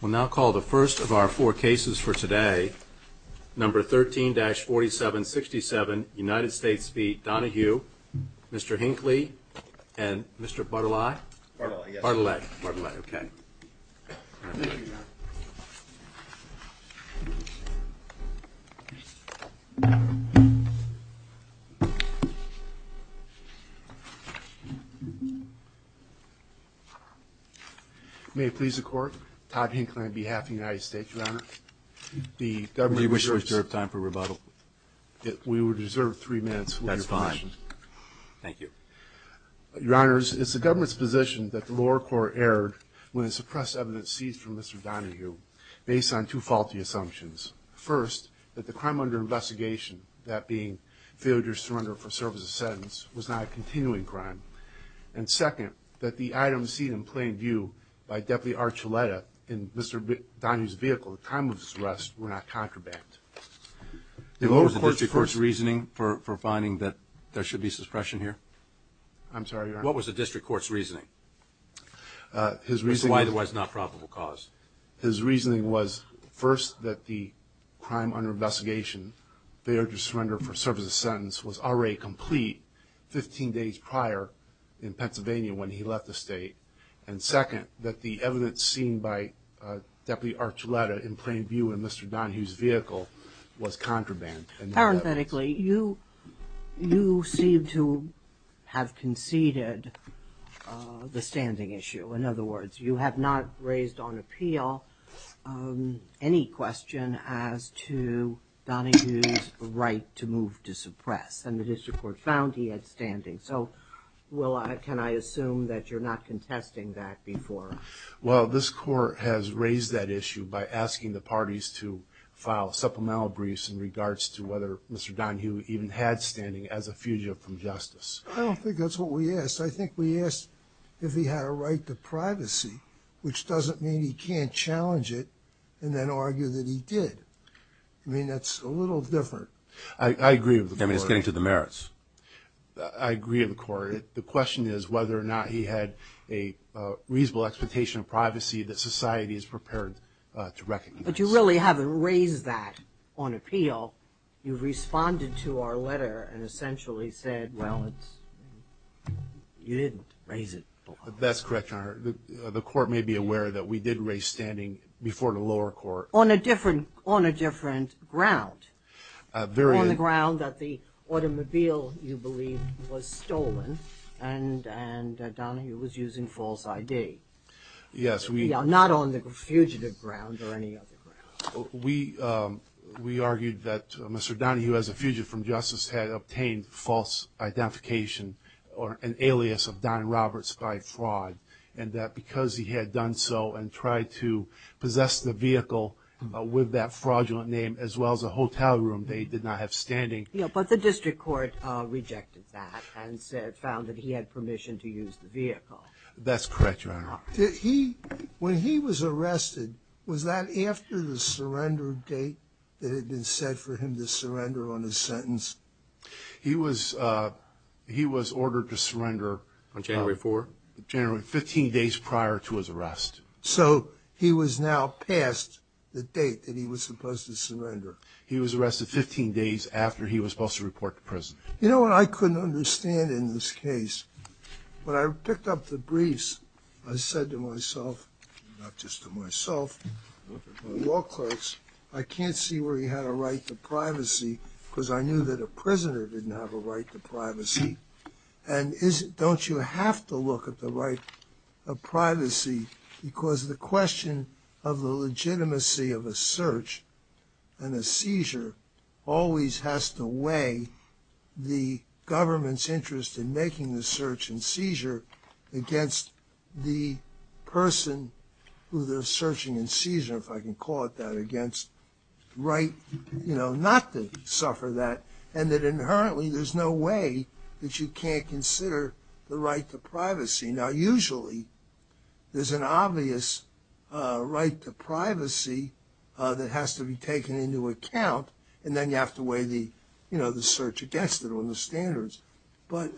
We'll now call the first of our four cases for today, number 13-4767, United States v. Donahue, Mr. Hinckley, and Mr. Bartolai? Bartolai. Bartolai, okay. Thank you, Your Honor. May it please the Court, Todd Hinckley on behalf of the United States, Your Honor. We wish to reserve time for rebuttal. We would reserve three minutes for your question. That's fine. Thank you. Your Honors, it's the government's position that the lower court erred when it suppressed evidence seized from Mr. Donahue based on two faulty assumptions. First, that the crime under investigation, that being failure to surrender for service of sentence, was not a continuing crime. And second, that the items seen in plain view by Deputy Archuleta in Mr. Donahue's vehicle at the time of his arrest were not contraband. What was the district court's reasoning for finding that there should be suppression here? I'm sorry, Your Honor. What was the district court's reasoning? His reasoning was... Which is why it was not probable cause. His reasoning was, first, that the crime under investigation, failure to surrender for service of sentence, was already complete 15 days prior in Pennsylvania when he left the state. And second, that the evidence seen by Deputy Archuleta in plain view in Mr. Donahue's vehicle was contraband. Parenthetically, you seem to have conceded the standing issue. In other words, you have not raised on appeal any question as to Donahue's right to move to suppress. And the district court found he had standing. So, can I assume that you're not contesting that before? Well, this court has raised that issue by asking the parties to file supplemental briefs in regards to whether Mr. Donahue even had standing as a fugitive from justice. I don't think that's what we asked. I think we asked if he had a right to privacy, which doesn't mean he can't challenge it and then argue that he did. I mean, that's a little different. I agree with the court. I mean, it's getting to the merits. I agree with the court. The question is whether or not he had a reasonable expectation of privacy that society is prepared to recognize. But you really haven't raised that on appeal. You've responded to our letter and essentially said, well, you didn't raise it. That's correct, Your Honor. The court may be aware that we did raise standing before the lower court. On a different ground. On the ground that the automobile, you believe, was stolen and Donahue was using false ID. Yes. Not on the fugitive ground or any other ground. We argued that Mr. Donahue, as a fugitive from justice, had obtained false identification or an alias of Don Roberts by fraud. And that because he had done so and tried to possess the vehicle with that fraudulent name, as well as a hotel room that he did not have standing. But the district court rejected that and found that he had permission to use the vehicle. That's correct, Your Honor. When he was arrested, was that after the surrender date that had been set for him to surrender on his sentence? He was ordered to surrender. On January 4th. January, 15 days prior to his arrest. So he was now past the date that he was supposed to surrender. He was arrested 15 days after he was supposed to report to prison. You know what I couldn't understand in this case? When I picked up the briefs, I said to myself, not just to myself, my law clerks, I can't see where he had a right to privacy because I knew that a prisoner didn't have a right to privacy. And don't you have to look at the right of privacy because the question of the legitimacy of a search and a seizure always has to weigh the government's interest in making the search and seizure against the person who they're searching and seizure, if I can call it that, against the right not to suffer that. And that inherently there's no way that you can't consider the right to privacy. Now usually there's an obvious right to privacy that has to be taken into account and then you have to weigh the, you know, the search against it on the standards. But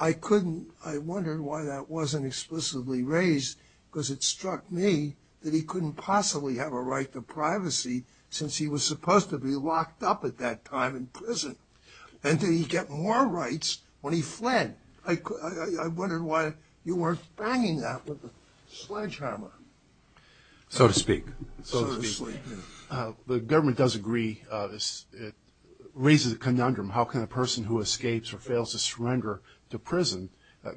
I couldn't, I wondered why that wasn't explicitly raised because it struck me that he couldn't possibly have a right to privacy since he was supposed to be locked up at that time in prison. And did he get more rights when he fled? I wondered why you weren't banging that with a sledgehammer. So to speak. So to speak. The government does agree, it raises a conundrum, how can a person who escapes or fails to surrender to prison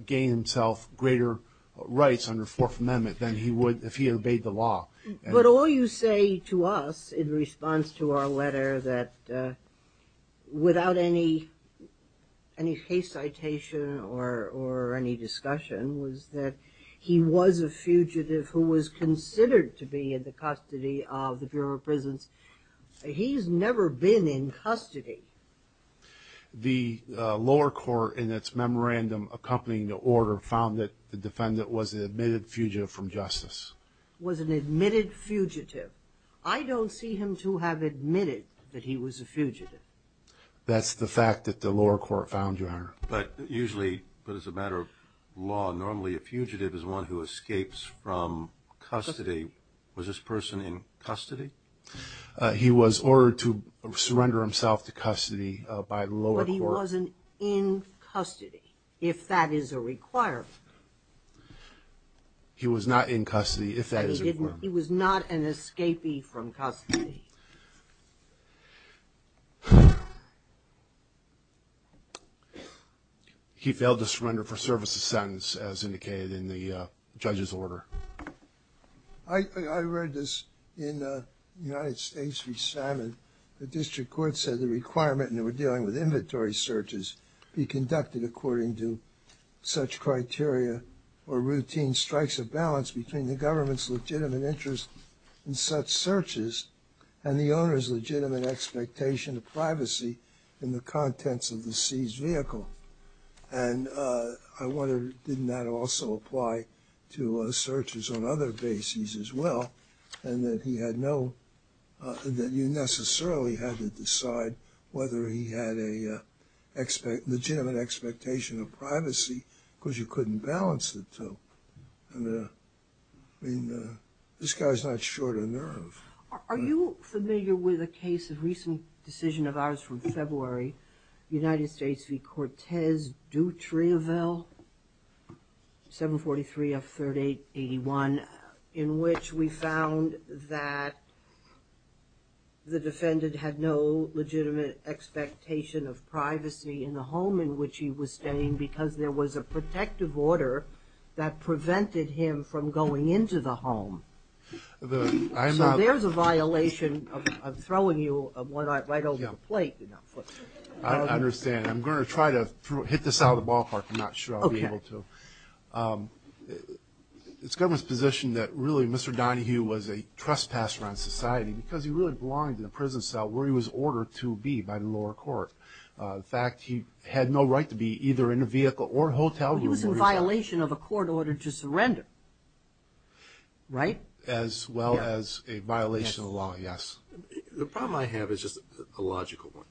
gain himself greater rights under Fourth Amendment than he would if he obeyed the law. But all you say to us in response to our letter that without any case citation or any discussion was that he was a fugitive who was considered to be in the custody of the Bureau of Prisons. He's never been in custody. The lower court in its memorandum accompanying the order found that the defendant was an admitted fugitive from justice. Was an admitted fugitive. I don't see him to have admitted that he was a fugitive. That's the fact that the lower court found, Your Honor. But usually, but as a matter of law, normally a fugitive is one who escapes from custody. Was this person in custody? He was ordered to surrender himself to custody by the lower court. But he wasn't in custody if that is a requirement. He was not in custody if that is a requirement. He was not an escapee from custody. He failed to surrender for service a sentence as indicated in the judge's order. I read this in United States v. Salmon. The district court said the requirement in dealing with inventory searches be conducted according to such criteria or routine strikes of balance between the government's legitimate interest in such searches and the owner's legitimate expectation of privacy in the contents of the seized vehicle. And I wonder, didn't that also apply to searches on other bases as well? And that he had no, that you necessarily had to decide whether he had a legitimate expectation of privacy because you couldn't balance the two. I mean, this guy's not short of nerve. Are you familiar with a case, a recent decision of ours from February, United States v. Cortez Dutrievel, 743 F 3881, in which we found that the defendant had no legitimate expectation of privacy in the home in which he was staying because there was a protective order that prevented him from going into the home. So there's a violation of throwing you right over the plate. I understand. I'm going to try to hit this out of the ballpark. I'm not sure I'll be able to. It's government's position that really Mr. Donahue was a trespasser on society because he really belonged in a prison cell where he was ordered to be by the lower court. In fact, he had no right to be either in a vehicle or hotel. He was in violation of a court order to surrender. Right? As well as a violation of the law. Yes. The problem I have is just a logical one.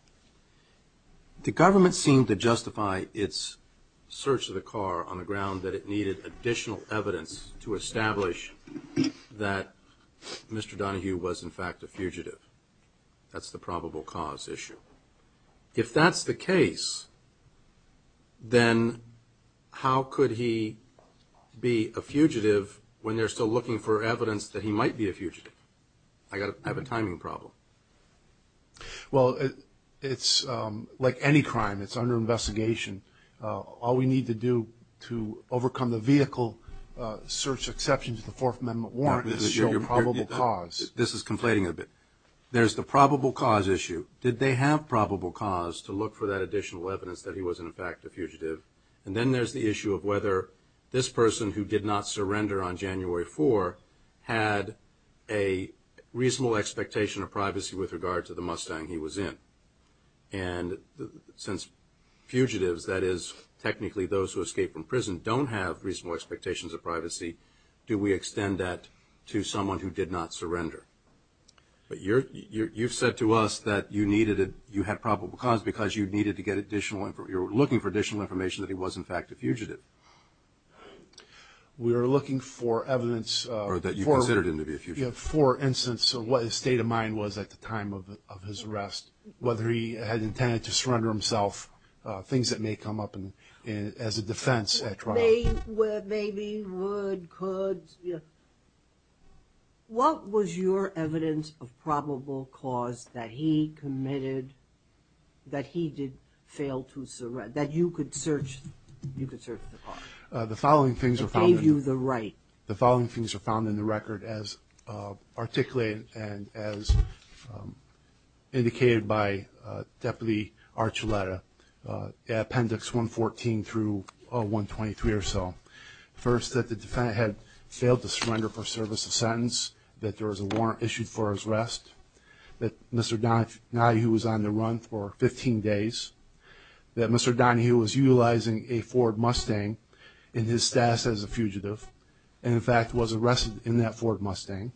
The government seemed to justify its search of the car on the ground that it needed additional evidence to establish that Mr. Donahue was in fact a fugitive. That's the probable cause issue. If that's the case, then how could he be a fugitive when they're still looking for evidence that he might be a fugitive? I have a timing problem. Well, it's like any crime. It's under investigation. All we need to do to overcome the vehicle search exception to the Fourth Amendment warrant is to show probable cause. This is conflating a bit. There's the probable cause issue. Did they have probable cause to look for that additional evidence that he was in fact a fugitive? And then there's the issue of whether this person who did not surrender on January 4 had a reasonable expectation of privacy with regard to the Mustang he was in. And since fugitives, that is technically those who escape from prison, don't have reasonable expectations of privacy, do we extend that to someone who did not surrender? You've said to us that you had probable cause because you were looking for additional information that he was in fact a fugitive. We were looking for evidence. Or that you considered him to be a fugitive. For instance, what his state of mind was at the time of his arrest, whether he had intended to surrender himself, things that may come up as a defense at trial. Maybe would, could. What was your evidence of probable cause that he committed, that he did fail to surrender, that you could search, you could search the car? The following things are found in the record as articulated and as indicated by Deputy Archuleta. Appendix 114 through 123 or so. First, that the defendant had failed to surrender for service of sentence. That there was a warrant issued for his arrest. That Mr. Donahue was on the run for 15 days. That Mr. Donahue was utilizing a Ford Mustang in his status as a fugitive. And in fact was arrested in that Ford Mustang.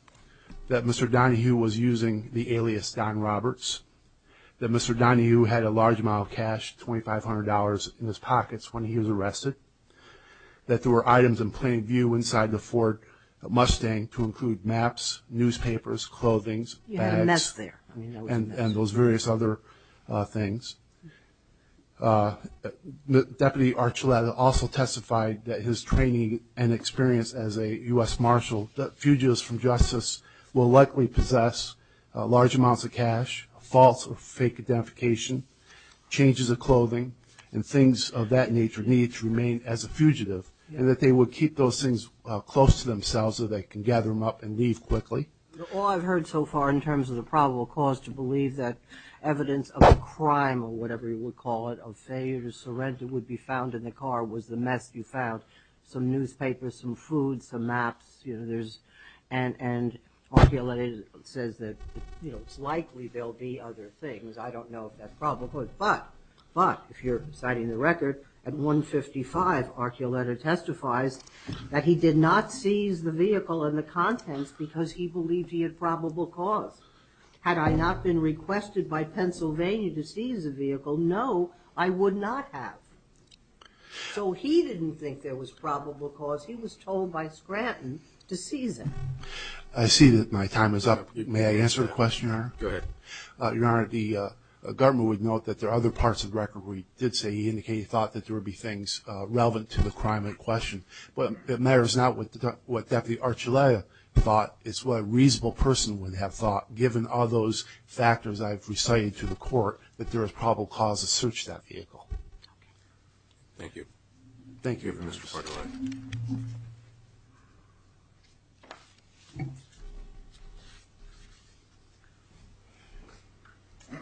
That Mr. Donahue was using the alias Don Roberts. That Mr. Donahue had a large amount of cash, $2,500 in his pockets when he was arrested. That there were items in plain view inside the Ford Mustang to include maps, newspapers, clothings, bags. You had a mess there. And those various other things. Deputy Archuleta also testified that his training and experience as a U.S. Marshal. That fugitives from justice will likely possess large amounts of cash, false or fake identification, changes of clothing, and things of that nature need to remain as a fugitive. And that they would keep those things close to themselves so they can gather them up and leave quickly. All I've heard so far in terms of the probable cause to believe that evidence of a crime or whatever you would call it. A failure to surrender would be found in the car was the mess you found. Some newspapers, some food, some maps. And Archuleta says that it's likely there will be other things. I don't know if that's probable. But if you're citing the record, at 155 Archuleta testifies that he did not seize the vehicle and the contents because he believed he had probable cause. Had I not been requested by Pennsylvania to seize the vehicle, no, I would not have. So he didn't think there was probable cause. He was told by Scranton to seize it. I see that my time is up. May I answer a question, Your Honor? Go ahead. Your Honor, the government would note that there are other parts of the record where he did say he indicated he thought that there would be things relevant to the crime in question. But it matters not what Deputy Archuleta thought. It's what a reasonable person would have thought. Given all those factors I've recited to the court, that there is probable cause to search that vehicle. Thank you. Thank you. Thank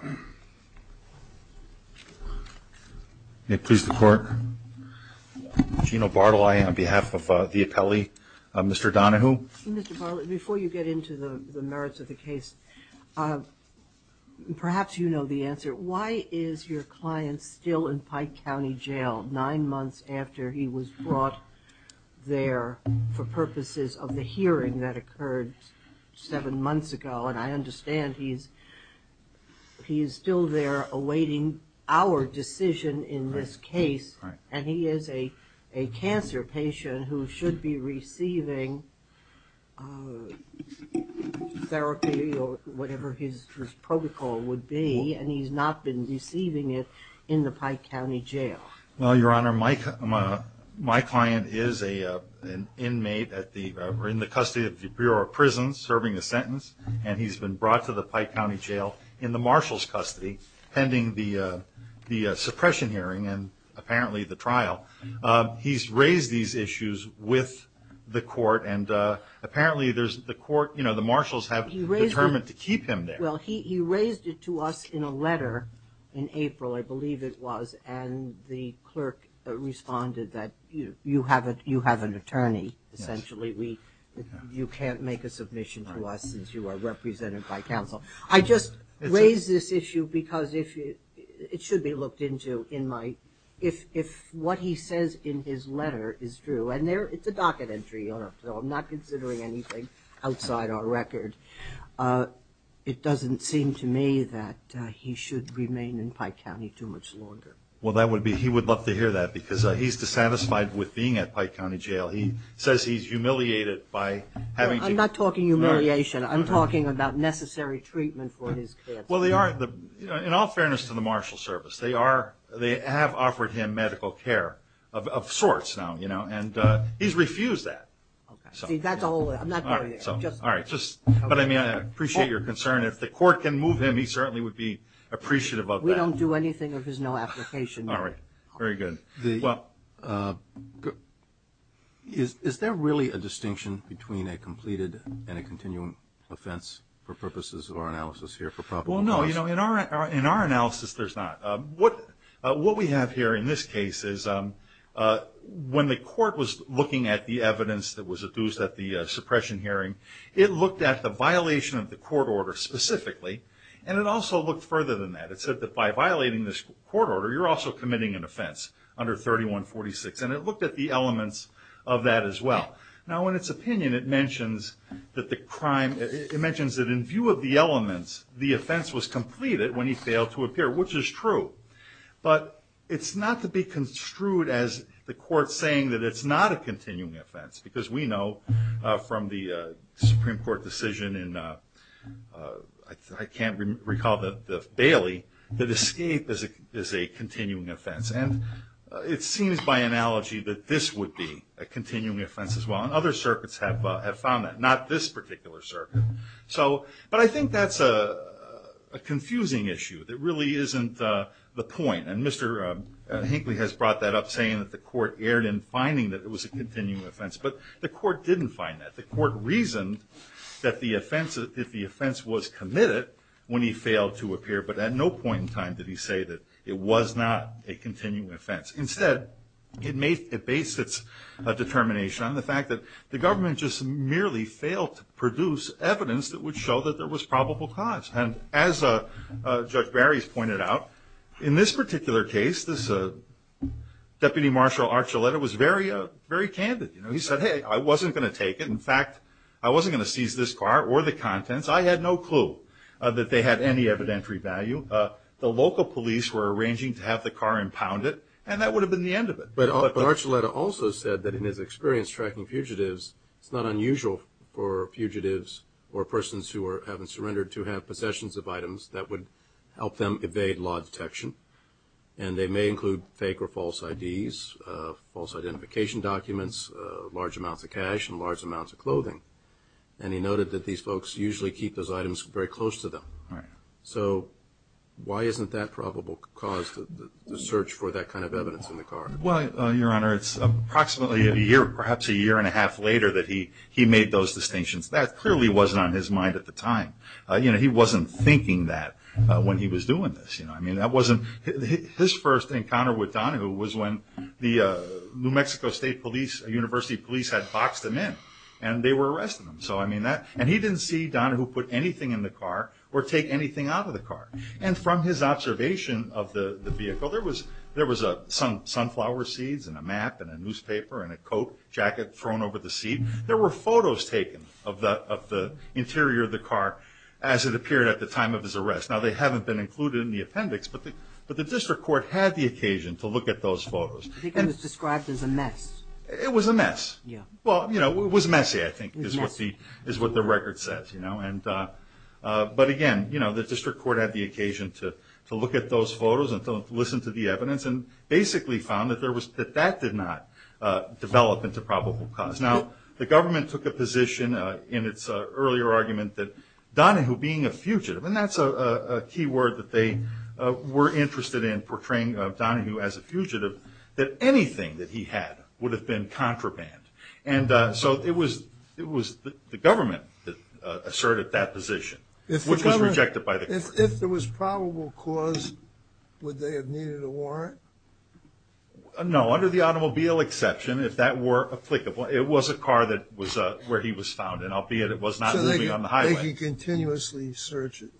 you. May it please the Court? Gina Bartle, I am on behalf of the appellee. Mr. Donohue? Mr. Bartle, before you get into the merits of the case, perhaps you know the answer. Why is your client still in Pike County Jail nine months after he was brought there for purposes of the hearing that occurred seven months ago? And I understand he's still there awaiting our decision in this case. And he is a cancer patient who should be receiving therapy or whatever his protocol would be. And he's not been receiving it in the Pike County Jail. Well, Your Honor, my client is an inmate in the custody of the Bureau of Prisons serving a sentence. And he's been brought to the Pike County Jail in the marshal's custody pending the suppression hearing and apparently the trial. He's raised these issues with the court and apparently the marshals have determined to keep him there. Well, he raised it to us in a letter in April, I believe it was. And the clerk responded that you have an attorney, essentially. You can't make a submission to us since you are represented by counsel. I just raised this issue because it should be looked into if what he says in his letter is true. And it's a docket entry, Your Honor, so I'm not considering anything outside our record. It doesn't seem to me that he should remain in Pike County too much longer. Well, he would love to hear that because he's dissatisfied with being at Pike County Jail. He says he's humiliated by having to... I'm not talking humiliation. I'm talking about necessary treatment for his cancer. Well, in all fairness to the marshal's service, they have offered him medical care of sorts now. And he's refused that. See, that's all. I'm not going there. But I appreciate your concern. If the court can move him, he certainly would be appreciative of that. We don't do anything if there's no application. All right. Very good. Is there really a distinction between a completed and a continuing offense for purposes of our analysis here for probable cause? Well, no. In our analysis, there's not. What we have here in this case is when the court was looking at the evidence that was adduced at the suppression hearing, it looked at the violation of the court order specifically, and it also looked further than that. It said that by violating this court order, you're also committing an offense under 3146. And it looked at the elements of that as well. Now, in its opinion, it mentions that in view of the elements, the offense was completed when he failed to appear, which is true. But it's not to be construed as the court saying that it's not a continuing offense. Because we know from the Supreme Court decision in, I can't recall, the Bailey, that escape is a continuing offense. And it seems by analogy that this would be a continuing offense as well. And other circuits have found that. Not this particular circuit. But I think that's a confusing issue that really isn't the point. And Mr. Hinckley has brought that up, saying that the court erred in finding that it was a continuing offense. But the court didn't find that. The court reasoned that the offense was committed when he failed to appear. But at no point in time did he say that it was not a continuing offense. Instead, it based its determination on the fact that the government just merely failed to produce evidence that would show that there was probable cause. And as Judge Barry's pointed out, in this particular case, this Deputy Marshal Archuleta was very candid. He said, hey, I wasn't going to take it. In fact, I wasn't going to seize this car or the contents. I had no clue that they had any evidentiary value. The local police were arranging to have the car impounded, and that would have been the end of it. But Archuleta also said that in his experience tracking fugitives, it's not unusual for fugitives or persons who haven't surrendered to have possessions of items that would help them evade law detection. And they may include fake or false IDs, false identification documents, large amounts of cash, and large amounts of clothing. And he noted that these folks usually keep those items very close to them. So, why isn't that probable cause to search for that kind of evidence in the car? Well, Your Honor, it's approximately a year, perhaps a year and a half later, that he made those distinctions. That clearly wasn't on his mind at the time. He wasn't thinking that when he was doing this. His first encounter with Donahue was when the New Mexico State University police had boxed him in, and they were arresting him. And he didn't see Donahue put anything in the car or take anything out of the car. And from his observation of the vehicle, there was sunflower seeds and a map and a newspaper and a coat jacket thrown over the seat. There were photos taken of the interior of the car as it appeared at the time of his arrest. Now, they haven't been included in the appendix, but the district court had the occasion to look at those photos. It was described as a mess. It was a mess. Well, you know, it was messy, I think, is what the record says. But again, the district court had the occasion to look at those photos and to listen to the evidence and basically found that that did not develop into probable cause. Now, the government took a position in its earlier argument that Donahue being a fugitive, and that's a key word that they were interested in portraying Donahue as a fugitive, that anything that he had would have been contraband. And so it was the government that asserted that position, which was rejected by the court. If there was probable cause, would they have needed a warrant? No, under the automobile exception, if that were applicable, it was a car that was where he was found, and albeit it was not moving on the highway. So they could continuously search it.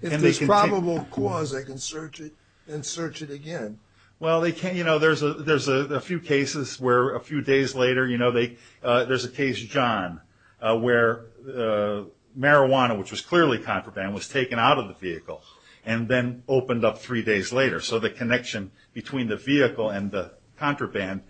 If there's probable cause, they can search it and search it again. Well, you know, there's a few cases where a few days later, you know, there's a case, John, where marijuana, which was clearly contraband, was taken out of the vehicle and then opened up three days later. So the connection between the vehicle and the contraband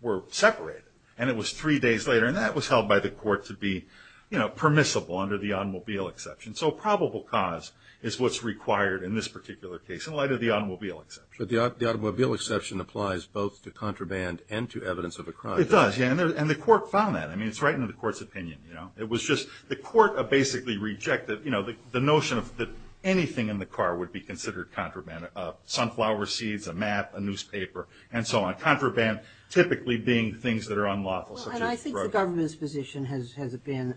were separated, and it was three days later, and that was held by the court to be, you know, permissible under the automobile exception. So probable cause is what's required in this particular case in light of the automobile exception. The automobile exception applies both to contraband and to evidence of a crime. It does, yeah, and the court found that. I mean, it's right in the court's opinion, you know. It was just, the court basically rejected, you know, the notion that anything in the car would be considered contraband. Sunflower seeds, a map, a newspaper, and so on. Contraband typically being things that are unlawful. Well, and I think the government's position has been,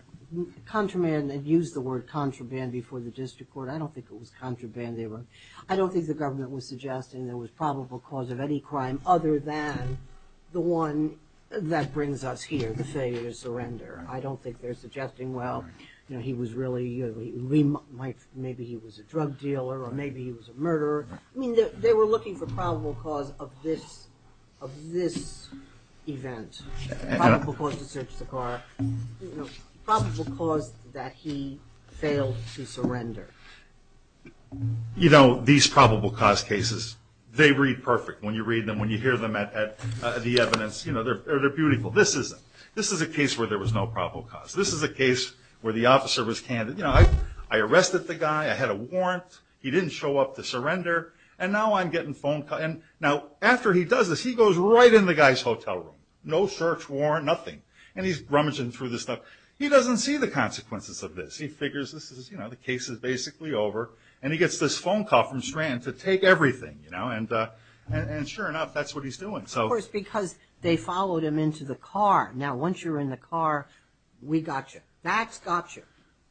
contraband, they've used the word contraband before the district court. I don't think it was contraband they wrote. I don't think the government was suggesting there was probable cause of any crime other than the one that brings us here, the failure to surrender. I don't think they're suggesting, well, you know, he was really, maybe he was a drug dealer or maybe he was a murderer. I mean, they were looking for probable cause of this event, probable cause to search the car, you know, probable cause that he failed to surrender. You know, these probable cause cases, they read perfect when you read them, when you hear them at the evidence, you know, they're beautiful. This isn't. This is a case where there was no probable cause. This is a case where the officer was candid. You know, I arrested the guy, I had a warrant, he didn't show up to surrender, and now I'm getting phone calls. And now, after he does this, he goes right in the guy's hotel room. No search warrant, nothing. And he's rummaging through this stuff. He doesn't see the consequences of this. He figures this is, you know, the case is basically over. And he gets this phone call from Strand to take everything, you know, and sure enough, that's what he's doing. Of course, because they followed him into the car. Now, once you're in the car, we got you. That's got you,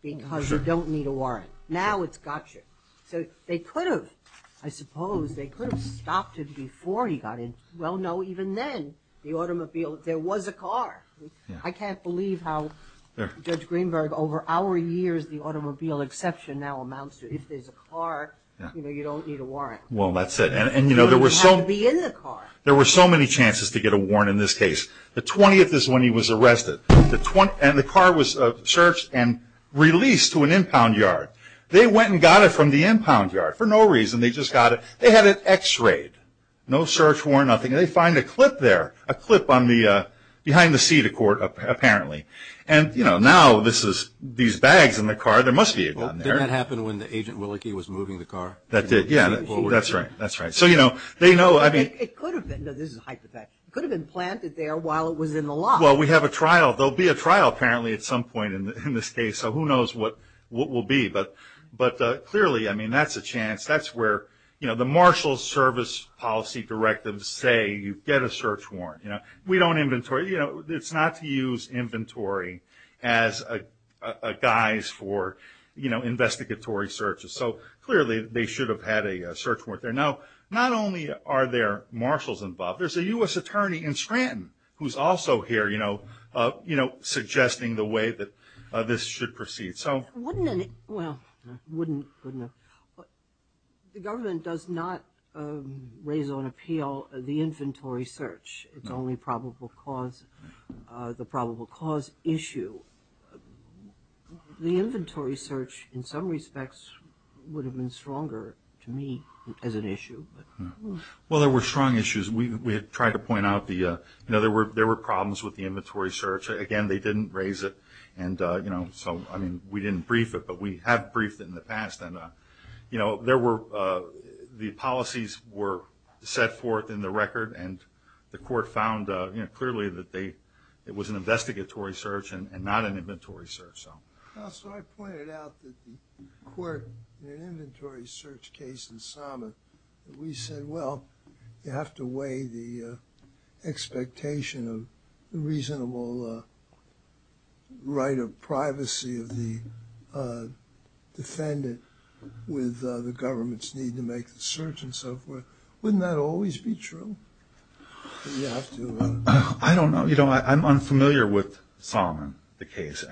because you don't need a warrant. Now it's got you. So they could have, I suppose, they could have stopped him before he got in. Well, no, even then, the automobile, there was a car. I can't believe how, Judge Greenberg, over our years, the automobile exception now amounts to, if there's a car, you know, you don't need a warrant. Well, that's it. And, you know, there were so many chances to get a warrant in this case. The 20th is when he was arrested. And the car was searched and released to an impound yard. They went and got it from the impound yard for no reason. They just got it. They had it x-rayed. No search warrant, nothing. They find a clip there, a clip on the, behind the seat of court, apparently. And, you know, now this is, these bags in the car, there must be a gun there. Did that happen when the agent Willicke was moving the car? That did, yeah, that's right, that's right. So, you know, they know, I mean. It could have been, this is a hypothetical, it could have been planted there while it was in the lot. Well, we have a trial. There'll be a trial, apparently, at some point in this case. So who knows what will be. But clearly, I mean, that's a chance. That's where, you know, the marshal's service policy directives say, you get a search warrant, you know. We don't inventory, you know, it's not to use inventory as a guise for, you know, investigatory searches. So clearly, they should have had a search warrant there. Now, not only are there marshals involved, there's a U.S. attorney in Scranton who's also here, you know, you know, suggesting the way that this should proceed. So. Wouldn't any, well, wouldn't, wouldn't. The government does not raise on appeal the inventory search. It's only probable cause, the probable cause issue. The inventory search, in some respects, would have been stronger to me as an issue. Well, there were strong issues. We had tried to point out the, you know, there were problems with the inventory search. Again, they didn't raise it. And, you know, so, I mean, we didn't brief it, but we have briefed it in the past. And, you know, there were, the policies were set forth in the record, and the court found, you know, clearly that they, it was an investigatory search and not an inventory search, so. Well, so I pointed out that the court, in an inventory search case in Somet, we said, well, you have to weigh the expectation of reasonable right of privacy of the defendant with the government's need to make the search and so forth. Wouldn't that always be true? You have to. I don't know. You know, I'm unfamiliar with Somet, the case.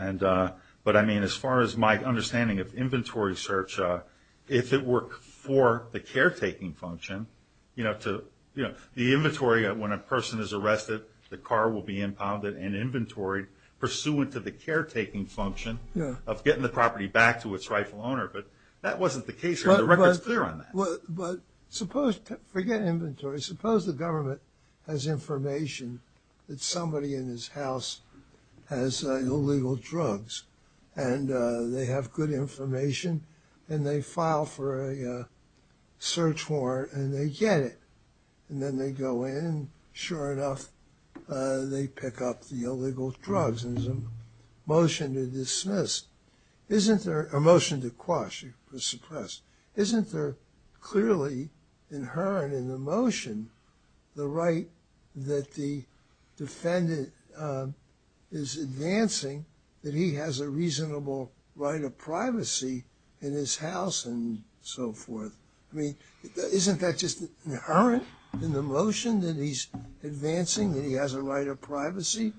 But, I mean, as far as my understanding of inventory search, if it were for the caretaking function, you know, to, you know, the inventory, when a person is arrested, the car will be impounded and inventoried pursuant to the caretaking function of getting the property back to its rightful owner. That wasn't the case here. The record's clear on that. But suppose, forget inventory, suppose the government has information that somebody in his house has illegal drugs, and they have good information, and they file for a search warrant, and they get it. And then they go in, sure enough, they pick up the illegal drugs, and there's a motion to dismiss. Isn't there a motion to quash or suppress? Isn't there clearly inherent in the motion the right that the defendant is advancing that he has a reasonable right of privacy in his house and so forth? I mean, isn't that just inherent in the motion that he's advancing that he has a right of privacy?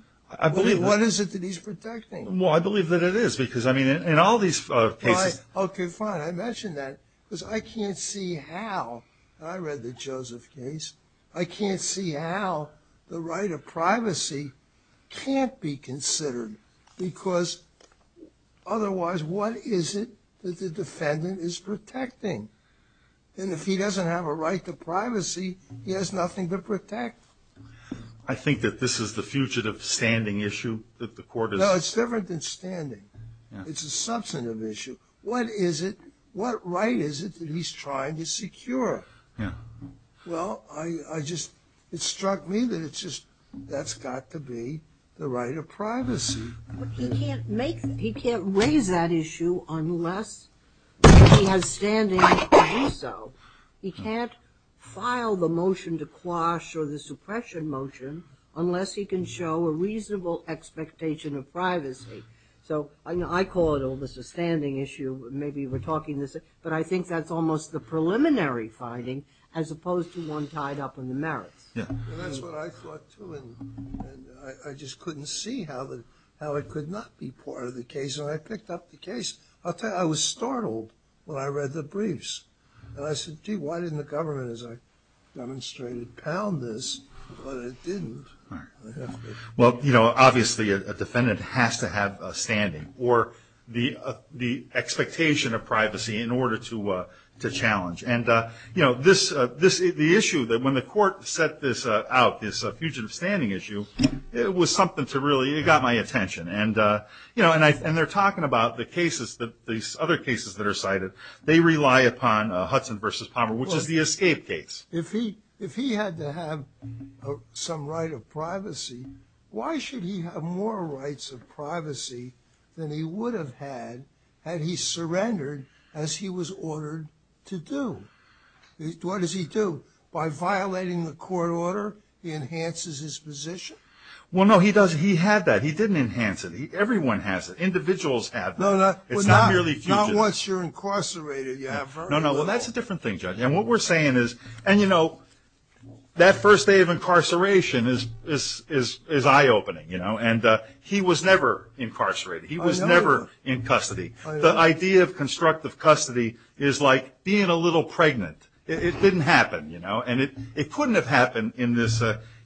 What is it that he's protecting? Well, I believe that it is, because, I mean, in all these cases... Right, okay, fine. I mentioned that, because I can't see how, and I read the Joseph case, I can't see how the right of privacy can't be considered, because otherwise, what is it that the defendant is protecting? And if he doesn't have a right to privacy, he has nothing to protect. I think that this is the fugitive standing issue that the court is... No, it's different than standing. It's a substantive issue. What is it, what right is it that he's trying to secure? Well, I just, it struck me that it's just, that's got to be the right of privacy. He can't make, he can't raise that issue unless he has standing to do so. He can't file the motion to quash or the suppression motion unless he can show a reasonable expectation of privacy. So, I call it all the standing issue, maybe we're talking this, but I think that's almost the preliminary finding as opposed to one tied up in the merits. Yeah, and that's what I thought too, and I just couldn't see how it could not be part of the case, and I picked up the case. I was startled when I read the briefs. And I said, gee, why didn't the government, as I demonstrated, pound this? Well, they didn't. Well, you know, obviously, a defendant has to have standing or the expectation of privacy in order to challenge. And, you know, this, the issue, that when the court set this out, this fugitive standing issue, it was something to really, it got my attention. And, you know, and they're talking about the cases, these other cases that are cited, they rely upon Hudson v. Palmer, which is the escape case. If he, if he had to have some right of privacy, why should he have more rights of privacy than he would have had had he surrendered as he was ordered to do? What does he do? By violating the court order, he enhances his position? Well, no, he doesn't. He had that. He didn't enhance it. Everyone has it. Individuals have that. No, no. It's not merely fugitives. Not once you're incarcerated, you have very little. No, no. Well, that's a different thing, Judge. And what we're saying is, and, you know, that first day of incarceration is eye-opening, you know, and he was never incarcerated. He was never in custody. The idea of constructive custody is like being a little pregnant. It didn't happen, you know, and it couldn't have happened in this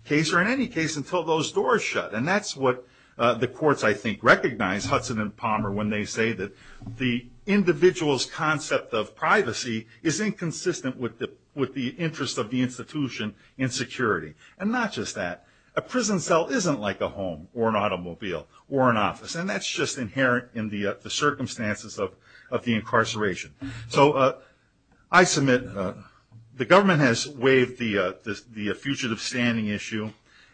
case or in any case until those doors shut. And that's what the courts, I think, recognize Hudson v. Palmer when they say that the individual's concept of privacy is inconsistent with the interest of the institution in security. And not just that. A prison cell isn't like a home or an automobile or an office. And that's just inherent in the circumstances of the incarceration. So I submit, the government has waived the fugitive standing issue.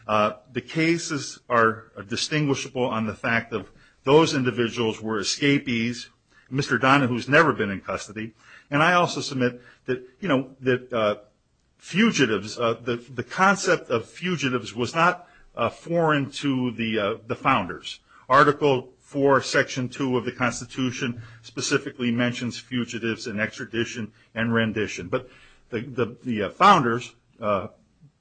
The cases are distinguishable on the fact that those individuals were escapees, Mr. Donahue's never been in custody, and I also submit that, you know, that fugitives, the concept of fugitives was not foreign to the founders. Article 4, Section 2 of the Constitution specifically mentions fugitives in extradition and rendition. But the founders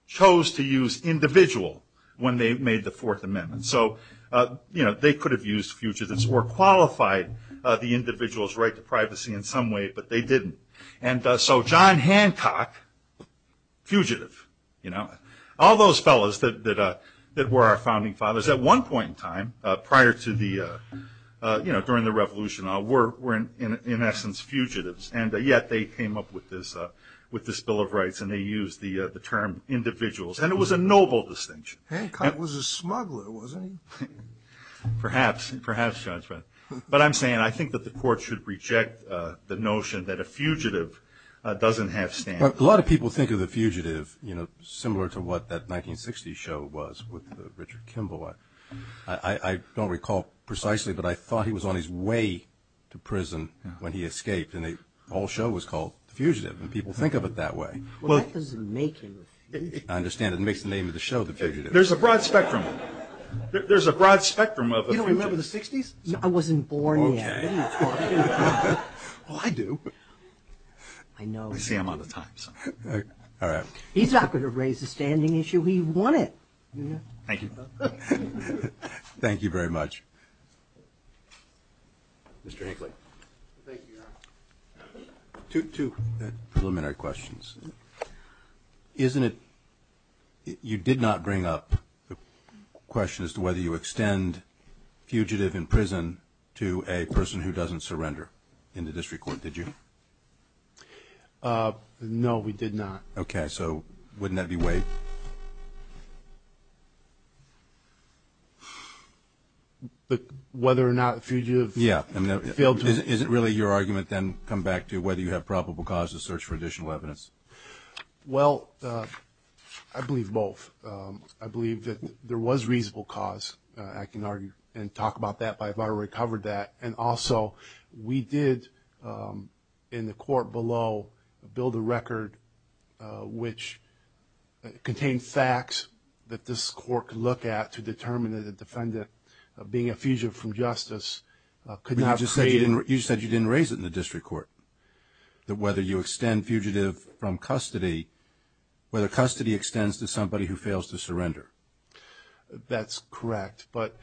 chose to use individual when they made the Fourth Amendment. So, you know, they could have used fugitives or qualified the individual's right to privacy in some way, but they didn't. And so John Hancock, fugitive, you know, all those fellows that were our founding fathers at one point in time, prior to the, you know, during the revolution were in essence fugitives. And yet they came up with this Bill of Rights and they used the term individuals. And it was a noble distinction. Hancock was a smuggler, wasn't he? Perhaps, perhaps, but I'm saying, I think that the court should reject the notion that a fugitive doesn't have standing. But a lot of people think of the fugitive, you know, similar to what that 1960s show was with Richard Kimball. I don't recall precisely, but I thought he was on his way to prison when he escaped and the whole show was called The Fugitive. And people think of it that way. Well, that doesn't make it. I understand it makes the name of the show The Fugitive. There's a broad spectrum. There's a broad spectrum of the fugitive. You don't remember the 60s? I wasn't born yet. Okay. Well, I do. I know. I see I'm out of time. All right. He's not going to raise the standing issue. He won it. Thank you. Thank you very much. Mr. Hinckley. Thank you, Your Honor. Two preliminary questions. Isn't it, you did not bring up the question as to whether you extend fugitive in prison to a person who doesn't surrender in the district court, did you? No, we did not. Okay. So wouldn't that be way... But whether or not fugitive failed to... Yeah. Isn't really your argument then come back to whether you have probable cause to search for additional evidence? Well, I believe both. I believe that there was reasonable cause. I can argue and talk about that if I've already covered that and also we did in the court below build a record which contained facts that this court could look at to determine that a defendant being a fugitive from justice could not create... You said you didn't raise it in the district court that whether you extend fugitive from custody whether custody extends to somebody who fails to surrender. That's correct but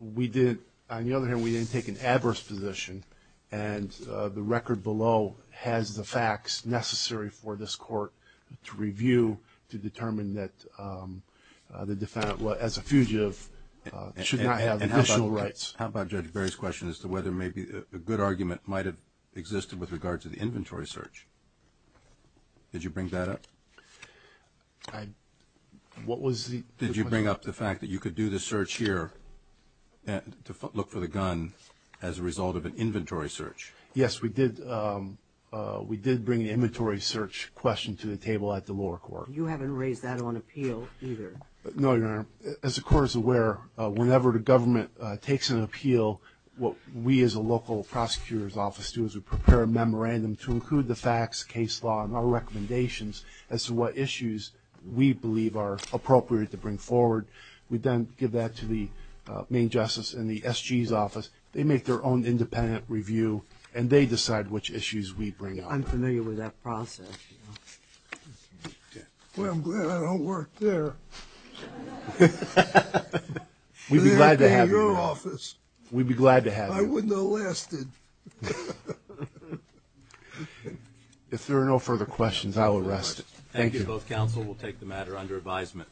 we didn't... On the other hand we didn't take an adverse position and the record below has the facts necessary for this court to review to determine that the defendant as a fugitive should not have additional rights. And how about Judge Barry's question as to whether maybe a good argument might have existed with regard to the inventory search? Did you bring that up? I... What was the... Did you bring up the fact that you could do the search here to look for the gun as a result of an inventory search? Yes, we did we did bring the inventory search question to the table at the lower court. You haven't raised that on appeal either. No, Your Honor. As the court is aware whenever the government takes an appeal what we as a local prosecutor's office do is we prepare a memorandum to include the facts case law and our recommendations as to what issues we believe are appropriate to bring forward. We then give that to the main justice in the SG's office. They make their own independent review and they decide which issues we bring up. I'm familiar with that process. Well, I'm glad I don't work there. We'd be glad to have you. I'd be in your office. We'd be glad to have you. I wouldn't have lasted. If there are no further questions I will rest. Thank you. Both counsel will take the matter under advisement.